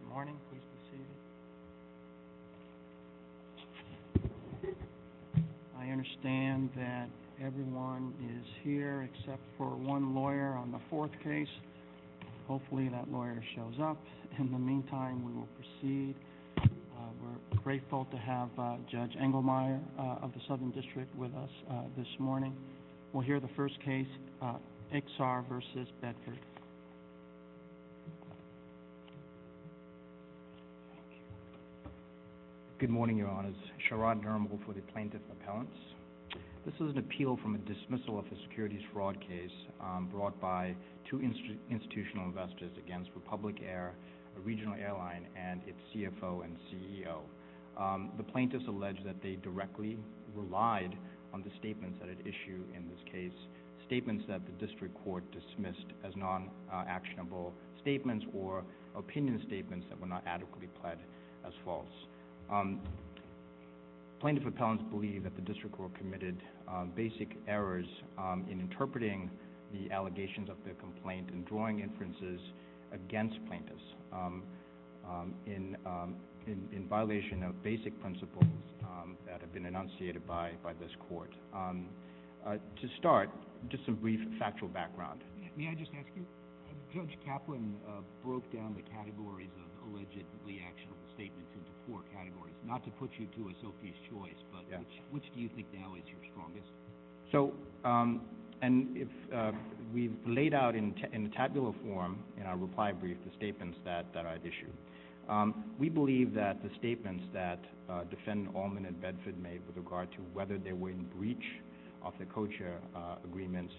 Good morning. Please proceed. I understand that everyone is here except for one lawyer on the fourth case. Hopefully that lawyer shows up. In the meantime, we will proceed. We are grateful to have Judge Engelmeyer of the Southern District with us this morning. We will hear the first case, Exar v. Bedford. Good morning, Your Honors. Sharad Nirmal for the Plaintiff's Appellants. This is an appeal from a dismissal of a securities fraud case brought by two institutional investors against Republic Air, a regional airline, and its CFO and CEO. The Plaintiffs allege that they directly relied on the statements that it issued in this case, statements that the District Court dismissed as non-actionable statements or opinion statements that were not adequately pled as false. Plaintiff's Appellants believe that the District Court committed basic errors in interpreting the allegations of their complaint and drawing inferences against plaintiffs in violation of basic principles that have been enunciated by this Court. To start, just a brief factual background. May I just ask you? Judge Kaplan broke down the categories of allegedly actionable statements into four categories, not to put you to a Sophie's Choice, but which do you think now is your strongest? So, and if we've laid out in tabular form in our reply brief the statements that I'd issue, we believe that the statements that defendant Allman and Bedford made with regard to whether they were in breach of the co-chair agreements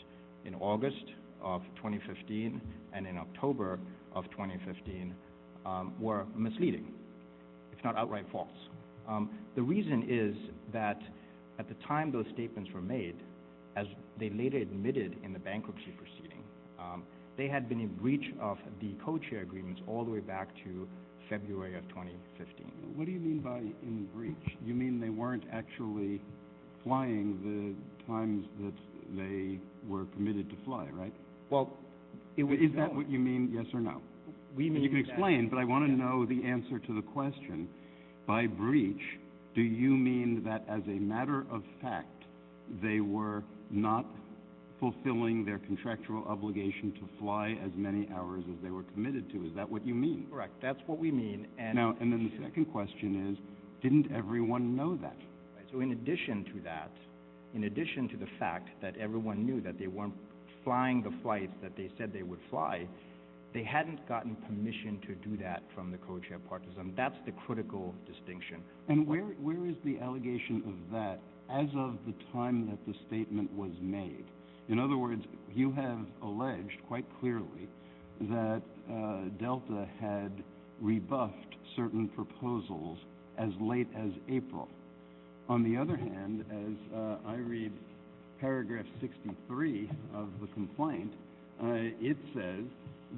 in August of 2015 and in October of 2015 were misleading, if not outright false. The reason is that at the time those statements were made, as they later admitted in the bankruptcy proceeding, they had been in breach of the co-chair agreements all the way back to February of 2015. What do you mean by in breach? You mean they weren't actually flying the times that they were permitted to fly, right? Well, is that what you mean, yes or no? You can explain, but I want to know the answer to the question. By breach, do you mean that as a matter of fact they were not fulfilling their contractual obligation to fly as many hours as they were committed to? Is that what you mean? Correct, that's what we mean. And now, and then the second question is, didn't everyone know that? So in addition to that, in addition to the fact that everyone knew that they weren't flying the flights that they said they would fly, they hadn't gotten permission to do that from the co-chair partisan. That's the critical distinction. And where is the allegation of that as of the time that the statement was made? In other words, you have alleged quite clearly that Delta had rebuffed certain proposals as late as April. On the other hand, as I read paragraph 63 of the complaint, it says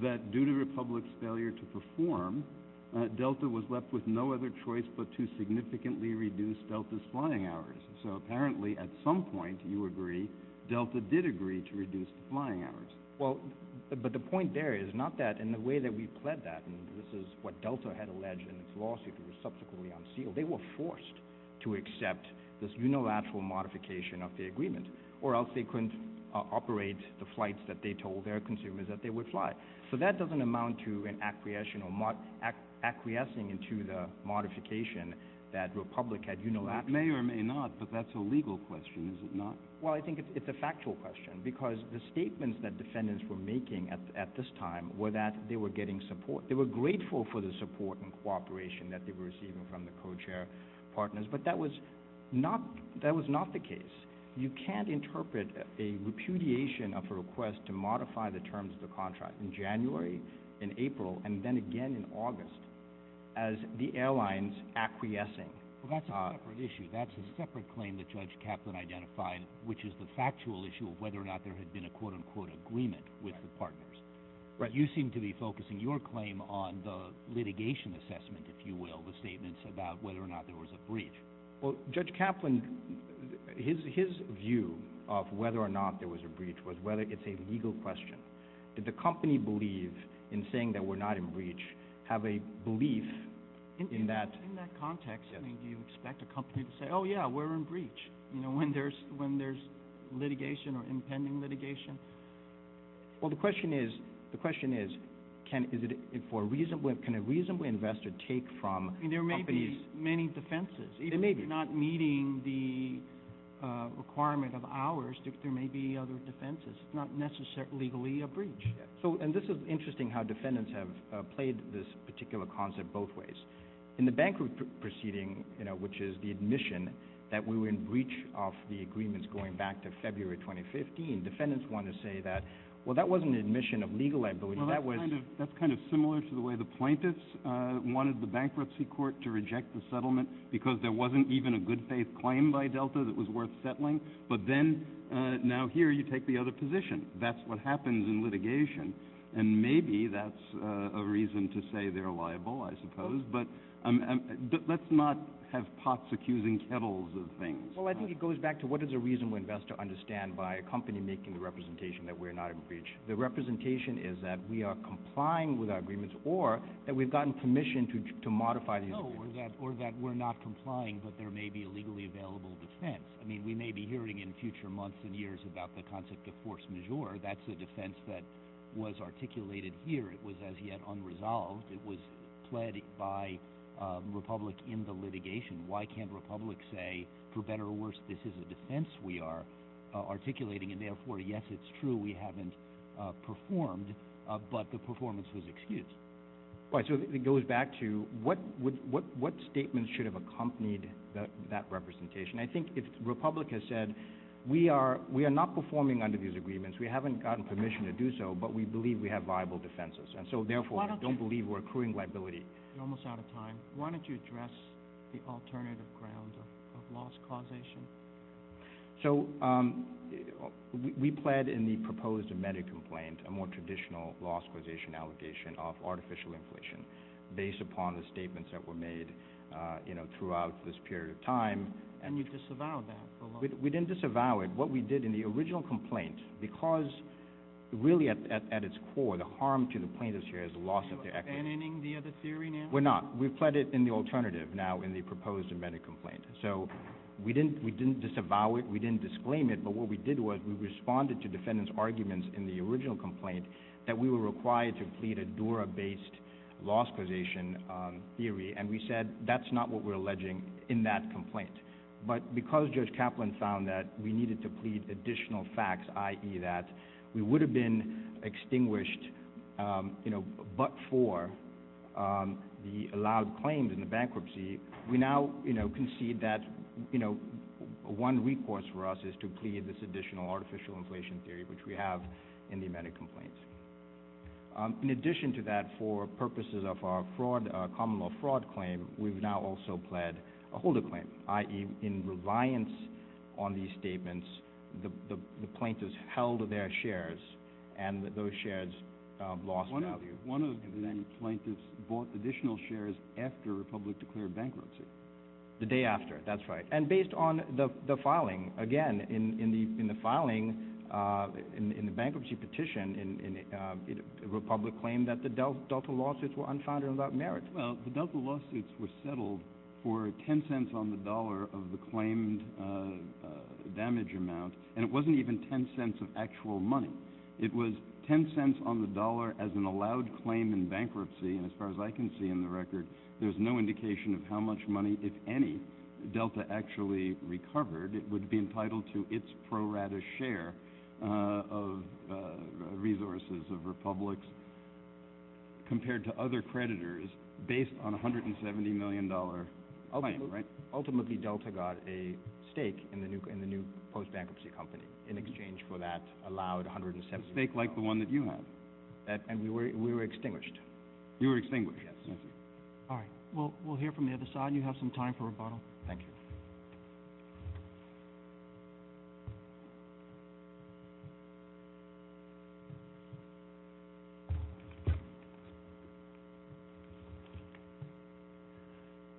that due to Republic's failure to perform, Delta was left with no other choice but to significantly reduce Delta's flying hours. So apparently at some point, you agree, Delta did agree to reduce the flying hours. Well, but the point there is not that in the way that we pled that, and this is what Delta had alleged in its lawsuit and was subsequently unsealed, they were forced to accept this unilateral modification of the agreement, or else they wouldn't operate the flights that they told their consumers that they would fly. So that doesn't amount to an acquiescing into the modification that Republic had unilateralized. That may or may not, but that's a legal question, is it not? Well, I think it's a factual question because the statements that defendants were making at this time were that they were getting support. They were grateful for the support and cooperation that they were receiving from the co-chair partners, but that was not the case. You can't interpret a repudiation of a request to modify the terms of the contract in January, in April, and then again in August as the airlines acquiescing. Well, that's a separate issue. That's a separate claim that Judge Kaplan identified, which is the factual issue of whether or not there had been a quote-unquote agreement with the partners. You seem to be focusing your claim on the litigation assessment, if you will, about whether or not there was a breach. Well, Judge Kaplan, his view of whether or not there was a breach was whether it's a legal question. Did the company believe in saying that we're not in breach, have a belief in that? In that context, do you expect a company to say, oh yeah, we're in breach when there's litigation or impending litigation? Well, the question is, can a reasonable investor take from companies... I mean, there may be many defenses, even if you're not meeting the requirement of ours, there may be other defenses. It's not necessarily legally a breach. So, and this is interesting how defendants have played this particular concept both ways. In the bank proceeding, which is the admission that we were in breach of the agreements going back to February 2015, defendants want to say that, well, that wasn't an admission of legal liability. That was... Well, that's kind of similar to the way the plaintiffs wanted the bankruptcy court to reject the settlement because there wasn't even a good faith claim by Delta that was worth settling. But then now here you take the other position. That's what happens in litigation. And maybe that's a reason to say they're liable, I suppose. But let's not have pots accusing kettles of things. I think it goes back to what is a reasonable investor understand by a company making the representation that we're not in breach. The representation is that we are complying with our agreements or that we've gotten permission to modify these agreements. Or that we're not complying, but there may be a legally available defense. I mean, we may be hearing in future months and years about the concept of force majeure. That's a defense that was articulated here. It was as yet unresolved. It was led by Republic in the litigation. Why can't Republic say, for better or worse, this is a defense we are articulating? And therefore, yes, it's true we haven't performed, but the performance was excused. Right. So it goes back to what statements should have accompanied that representation. I think if Republic has said, we are not performing under these agreements. We haven't gotten permission to do so, but we believe we have defenses. And so, therefore, I don't believe we're accruing liability. You're almost out of time. Why don't you address the alternative ground of loss causation? So we pled in the proposed amended complaint, a more traditional loss causation allegation of artificial inflation based upon the statements that were made throughout this period of time. And you disavowed that? We didn't disavow it. What we did in the original complaint, because really at its core, the harm to the plaintiffs here is the loss of their equity. Are you abandoning the other theory now? We're not. We've pled it in the alternative now in the proposed amended complaint. So we didn't disavow it. We didn't disclaim it. But what we did was we responded to defendants' arguments in the original complaint that we were required to plead a Dura-based loss causation theory. And we said, that's not what we're alleging in that complaint. But because Judge Kaplan found that we needed to plead additional facts, i.e. that we would have been extinguished but for the allowed claims in the bankruptcy, we now concede that one recourse for us is to plead this additional artificial inflation theory, which we have in the amended complaint. In addition to that, for purposes of our common law fraud claim, we've now also pled a holder claim, i.e. in reliance on these statements, the plaintiffs held their shares and those shares lost value. One of the plaintiffs bought additional shares after the Republic declared bankruptcy. The day after, that's right. And based on the filing, again, in the bankruptcy petition, the Republic claimed that the Delta lawsuits were unfounded without merit. Well, the Delta lawsuits were settled for 10 cents on the dollar of the claimed damage amount. And it wasn't even 10 cents of actual money. It was 10 cents on the dollar as an allowed claim in bankruptcy. And as far as I can see in the record, there's no indication of how much money, if any, Delta actually recovered. It would be entitled to its pro-rata share of resources of Republic's compared to other creditors based on $170 million claim, right? Ultimately, Delta got a stake in the new post-bankruptcy company in exchange for that allowed $170 million. A stake like the one that you had. And we were extinguished. You were extinguished? Yes. Thank you. All right. We'll hear from the other side. You have some time for rebuttal. Thank you.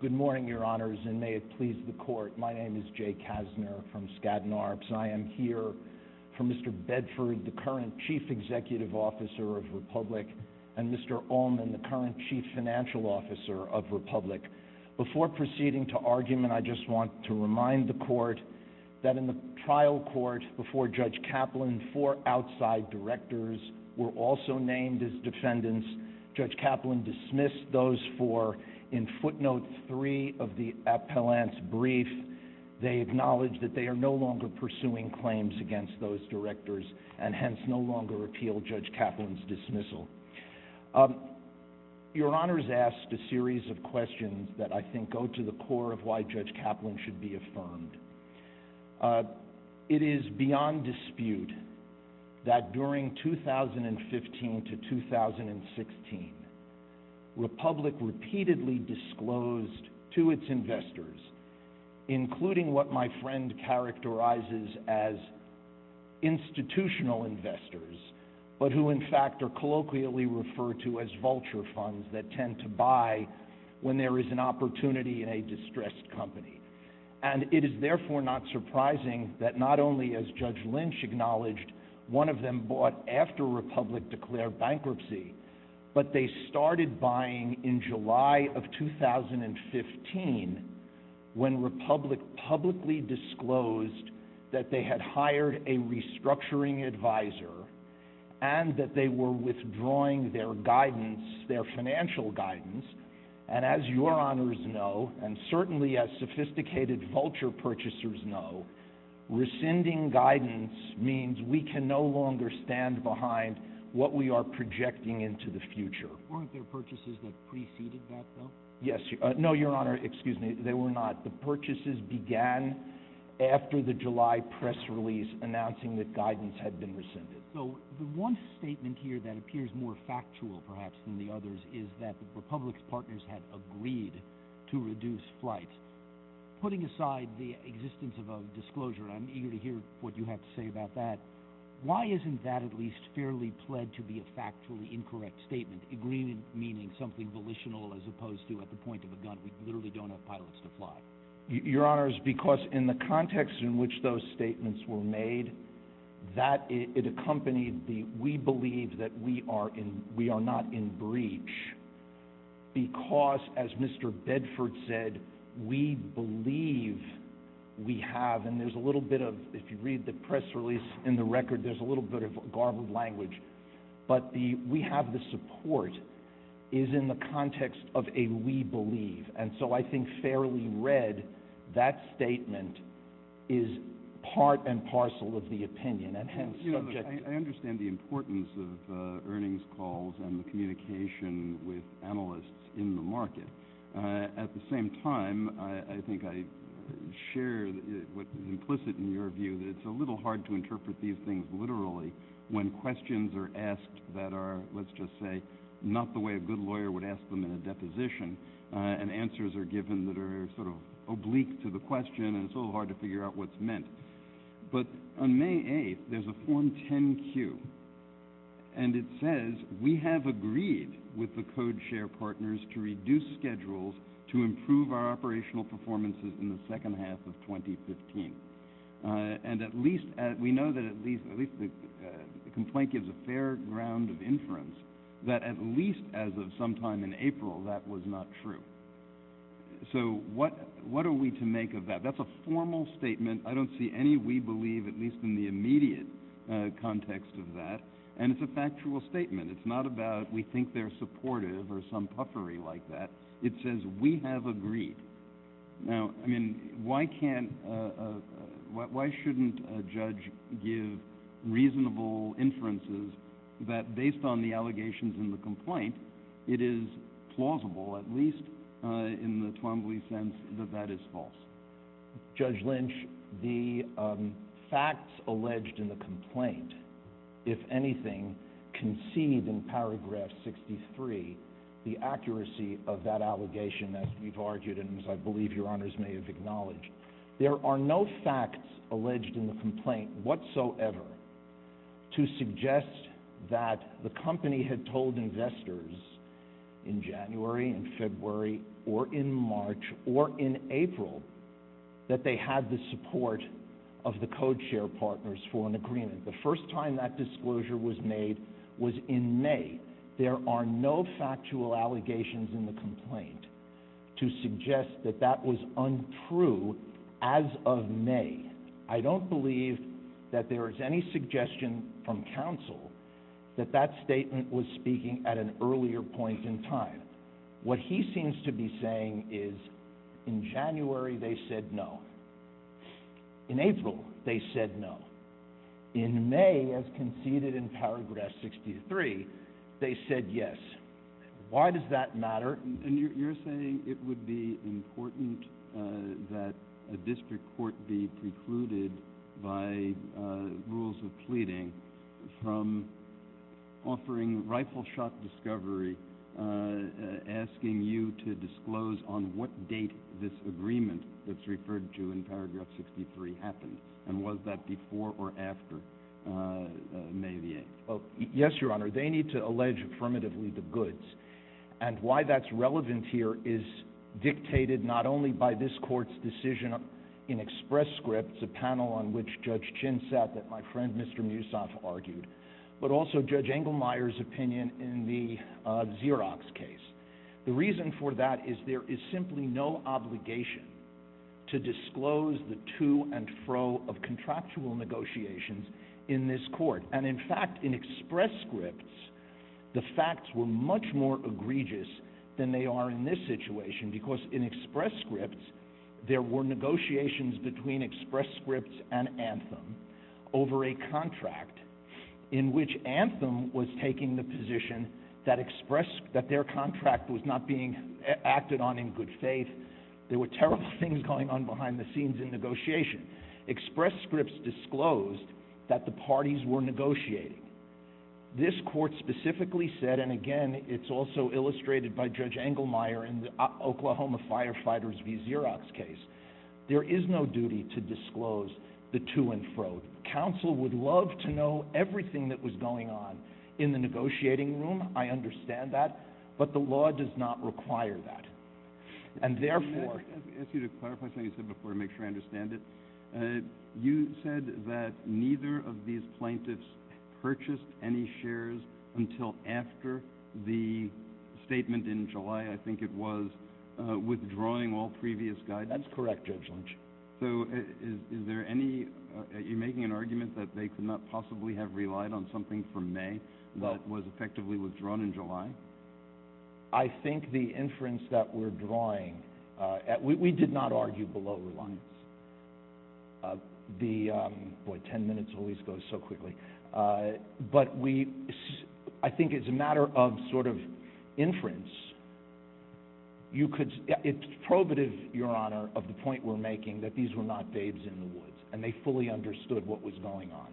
Good morning, Your Honors, and may it please the Court. My name is Jay Kassner from Skadden Arps. I am here for Mr. Bedford, the current Chief Executive Officer of Republic, and Mr. Ullman, the current Chief Financial Officer of Republic. Before proceeding to argument, I just want to remind the Court that in the trial court before Judge Kaplan, four outside directors were also named as defendants. Judge Kaplan dismissed those four. In footnote three of the appellant's brief, they acknowledge that they are no longer pursuing claims against those directors and hence no longer appeal Judge Kaplan's dismissal. Your Honors asked a series of questions about whether Judge Kaplan should be affirmed. It is beyond dispute that during 2015 to 2016, Republic repeatedly disclosed to its investors, including what my friend characterizes as institutional investors, but who in fact are colloquially referred to as vulture funds that tend to buy when there is an opportunity in a distressed company. And it is therefore not surprising that not only has Judge Lynch acknowledged one of them bought after Republic declared bankruptcy, but they started buying in July of 2015 when Republic publicly disclosed that they had hired a restructuring advisor and that they were withdrawing their guidance, their financial guidance. And as your Honors know, and certainly as sophisticated vulture purchasers know, rescinding guidance means we can no longer stand behind what we are projecting into the future. Weren't there purchases that preceded that though? Yes. No, your Honor, excuse me, they were not. The purchases began after the July press release announcing that guidance had been rescinded. So the one statement here that appears more factual perhaps than the others is that Republic's partners had agreed to reduce flights. Putting aside the existence of a disclosure, I'm eager to hear what you have to say about that. Why isn't that at least fairly pled to be a factually incorrect statement? Agreement meaning something volitional as opposed to at the point of a gun. We literally don't have pilots to fly. Your Honors, because in the context in which those statements were made, that it accompanied the, we believe that we are not in breach. Because as Mr. Bedford said, we believe we have, and there's a little bit of, if you read the press release in the record, there's a little bit of garbled language, but the we have the support is in the context of a we believe. And so I think fairly read, that statement is part and parcel of the opinion. And hence, subject to... I understand the importance of earnings calls and the communication with analysts in the market. At the same time, I think I share what is implicit in your view that it's a little hard to interpret these things literally when questions are asked that are, let's just say, not the way a good lawyer would ask them in a deposition. And answers are given that are sort of oblique to the question and it's a little hard to figure out what's meant. But on May 8th, there's a Form 10-Q. And it says, we have agreed with the CodeShare partners to reduce schedules to improve our operational performances in the second half of 2015. And at least, we know that at least the complaint gives a fair ground of inference, that at least as of sometime in April, that was not true. So what are we to make of that? That's a formal statement. I don't see any we believe, at least in the immediate context of that. And it's a factual statement. It's not about we think they're supportive or some puffery like that. It says, we have agreed. Now, I mean, why shouldn't a judge give reasonable inferences that based on the in the Twombly sense that that is false? Judge Lynch, the facts alleged in the complaint, if anything, concede in paragraph 63, the accuracy of that allegation, as we've argued, and as I believe Your Honors may have acknowledged, there are no facts alleged in the complaint whatsoever to suggest that the company had told investors in January and February or in March or in April that they had the support of the CodeShare partners for an agreement. The first time that disclosure was made was in May. There are no factual allegations in the complaint to suggest that that was untrue as of May. I don't believe that there is any suggestion from counsel that that statement was speaking at an earlier point in time. What he seems to be saying is in January, they said no. In April, they said no. In May, as conceded in paragraph 63, they said yes. Why does that matter? You're saying it would be important that a district court be precluded by rules of pleading from offering rifle-shot discovery, asking you to disclose on what date this agreement that's referred to in paragraph 63 happened, and was that before or after May the 8th? Yes, Your Honor. They need to allege affirmatively the goods, and why that's relevant here is dictated not only by this Court's decision in express scripts, a panel on which Judge Chin sat that my friend Mr. Musoff argued, but also Judge Engelmeyer's opinion in the Xerox case. The reason for that is there is simply no obligation to disclose the facts. In fact, in express scripts, the facts were much more egregious than they are in this situation because in express scripts, there were negotiations between express scripts and Anthem over a contract in which Anthem was taking the position that their contract was not being acted on in good faith. There were terrible things going on behind the scenes in negotiation. Express scripts disclosed that the parties were negotiating. This Court specifically said, and again, it's also illustrated by Judge Engelmeyer in the Oklahoma Firefighters v. Xerox case, there is no duty to disclose the to and fro. Counsel would love to know everything that was going on in the negotiating room. I understand that, but the law does not require that, and therefore— Let me ask you to clarify something you said before to make sure I understand it. You said that neither of these plaintiffs purchased any shares until after the statement in July. I think it was withdrawing all previous guidance. That's correct, Judge Lynch. So is there any—are you making an argument that they could not possibly have relied on something from May that was effectively withdrawn in July? I think the inference that we're drawing—we did not argue below reliance. Boy, 10 minutes always goes so quickly. But I think it's a matter of sort of inference. It's probative, Your Honor, of the point we're making that these were not babes in the woods, and they fully understood what was going on.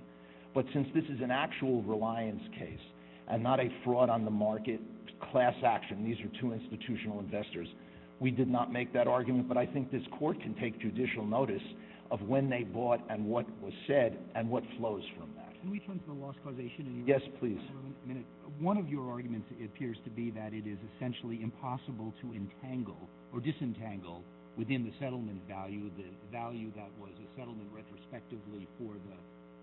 But since this is an actual reliance case and not a fraud on the market class action—these are two institutional investors—we did not make that argument. But I think this Court can take judicial notice of when they bought and what was said and what flows from that. Can we turn to the loss causation? Yes, please. One of your arguments appears to be that it is essentially impossible to entangle or disentangle within the settlement value the value that was a settlement retrospectively for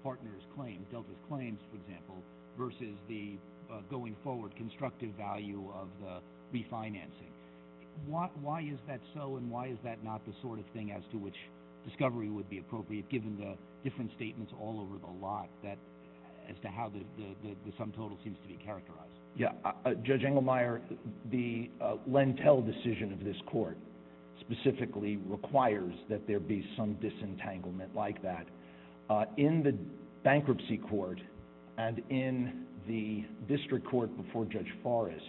partners' claims—Delta's claims, for example—versus the going forward constructive value of the refinancing. Why is that so, and why is that not the sort of thing as to which discovery would be appropriate, given the different statements all over the lot as to how the sum total seems to be characterized? Yes. Judge Engelmeyer, the Lentel decision of this Court specifically requires that there be some disentanglement like that. In the bankruptcy court and in the district court before Judge Forrest,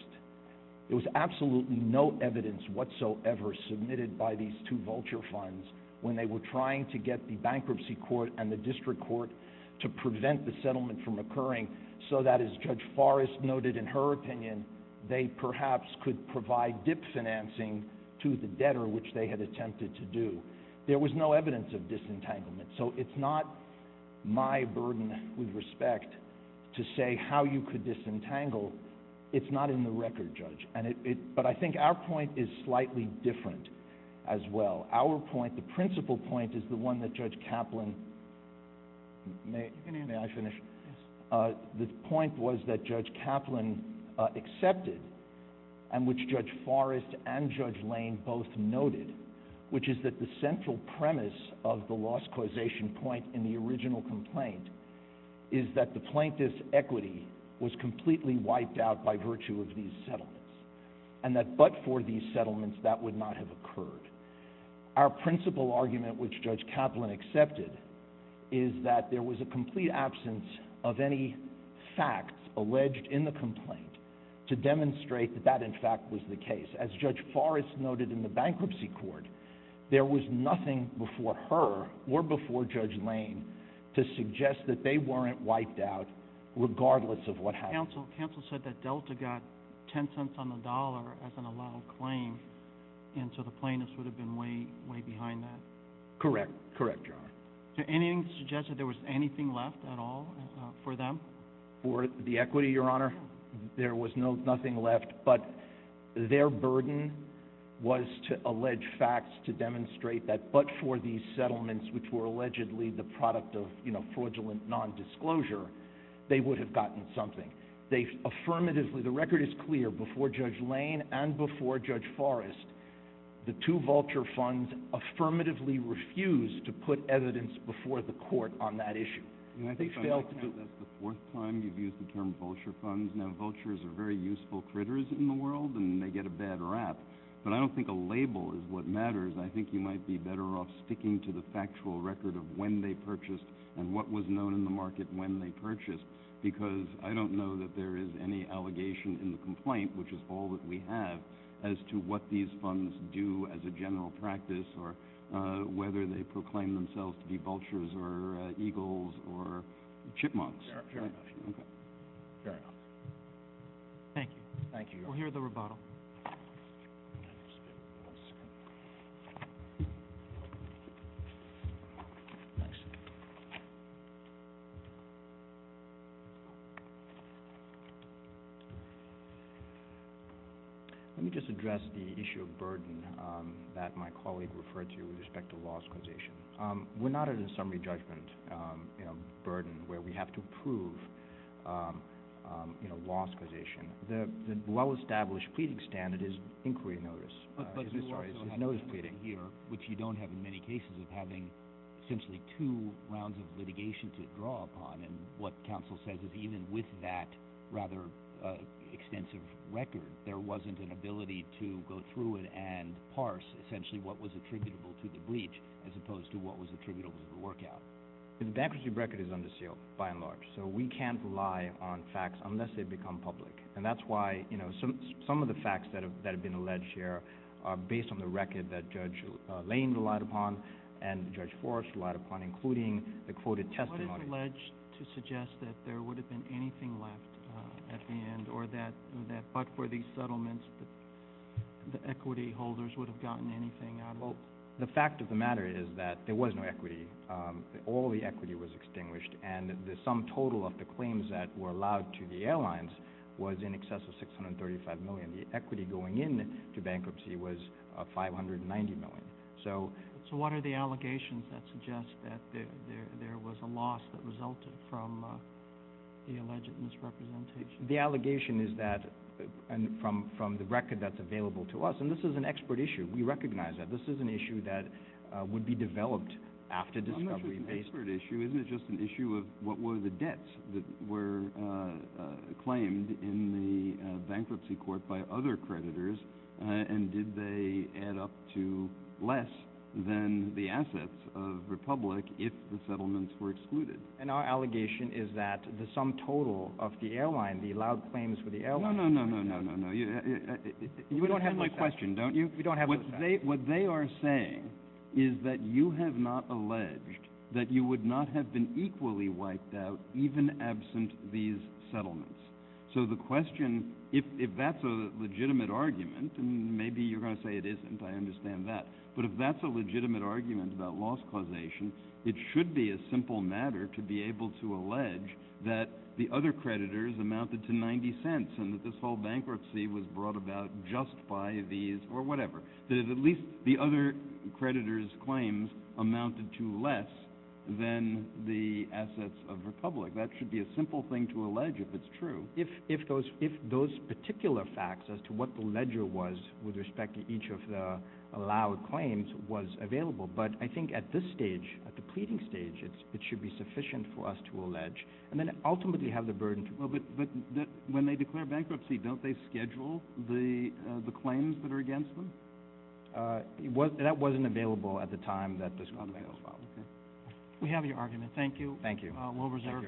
there was absolutely no evidence whatsoever submitted by these two vulture funds when they were trying to get the bankruptcy court and the district court to prevent the settlement from occurring so that, as Judge Forrest noted in her opinion, they perhaps could provide dip financing to the debtor, which they had attempted to do. There was no evidence of disentanglement, so it's not my burden with respect to say how you could disentangle. It's not in the record, Judge. But I think our point is slightly different as well. Our point, the principal point, is the one that Judge Kaplan—may I finish? The point was that Judge Kaplan accepted, and which Judge Forrest and Judge Lane both noted, which is that the central premise of the loss causation point in the original complaint is that the plaintiff's equity was completely wiped out by virtue of these settlements, and that but for these settlements, that would not have occurred. Our principal argument, which Judge Kaplan accepted, is that there was a complete absence of any facts alleged in the complaint to demonstrate that that, in fact, was the case. As Judge Forrest noted in the bankruptcy court, there was nothing before her or before Judge Lane to suggest that they weren't wiped out regardless of what happened. Counsel said that Delta got 10 cents on the dollar as an allowed claim, and so the plaintiffs would have been way, way behind that. Correct. Correct, Your Honor. So anything to suggest that there was anything left at all for them? For the equity, Your Honor, there was nothing left. But their burden was to allege facts to demonstrate that but for these settlements, which were allegedly the product of, you know, fraudulent nondisclosure, they would have gotten something. They affirmatively—the record is clear. Before Judge Lane and before Judge Forrest, the two vulture funds affirmatively refused to put evidence before the court on that issue. I think that's the fourth time you've used the term vulture funds. Now, vultures are very useful critters in the world, and they get a bad rap, but I don't think a label is what matters. I think you might be better off sticking to the factual record of when they purchased and what was known in the market when they purchased, because I don't know that there is any allegation in the complaint, which is all that we have, as to what these funds do as a general practice or whether they proclaim themselves to be vultures or eagles or chipmunks. Very much. Okay. Thank you. Thank you. We'll hear the rebuttal. Let me just address the issue of burden that my colleague referred to with respect to lost causation. We're not at a summary judgment burden where we have to prove lost causation. The well-established pleading standard is inquiry notice. Sorry, it's notice pleading. Here, which you don't have in many cases of having essentially two rounds of litigation to draw upon, and what counsel says is even with that rather extensive record, there wasn't an ability to go through it and parse essentially what was attributable to the breach as opposed to what was attributable to the work out. The bankruptcy record is under seal by and large, so we can't rely on facts unless they become public, and that's why some of the facts that have been alleged here are based on the record that Judge Lane relied upon and Judge Forrest relied upon, including the quoted testimony. What is alleged to suggest that there would have been anything left at the end or that but for these settlements, the equity holders would have gotten anything out of it? The fact of the matter is that there was no equity. All the equity was extinguished, and the sum total of the claims that were allowed to the airlines was in excess of $635 million. The equity going into bankruptcy was $590 million. So what are the allegations that suggest that there was a loss that resulted from the alleged misrepresentation? The allegation is that from the record that's available to us, and this is an expert issue. We recognize that. This is an issue that would be developed after discovery. I'm not sure it's an expert issue. Isn't it just an issue of what were the debts that were claimed in the bankruptcy court by other creditors, and did they add up to less than the assets of Republic if the settlements were excluded? And our allegation is that the sum total of the airline, the allowed claims for the airline... No, no, no, no, no, no, no. You don't have my question, don't you? We don't have... What they are saying is that you have not alleged that you would not have been equally wiped out even absent these settlements. So the question, if that's a legitimate argument, and maybe you're going to say it isn't. I understand that. But if that's a legitimate argument about loss causation, it should be a simple matter to be able to allege that the other creditors amounted to $0.90 and that this whole bankruptcy was brought about just by these or whatever. At least the other creditors' claims amounted to less than the assets of Republic. That should be a simple thing to allege if it's true. If those particular facts as to what the ledger was with respect to each of the allowed claims was available. But I think at this stage, at the pleading stage, it should be sufficient for us to allege, and then ultimately have the burden to... Well, but when they declare bankruptcy, don't they schedule the claims that are against them? That wasn't available at the time that this was filed. We have your argument. Thank you. We'll reserve...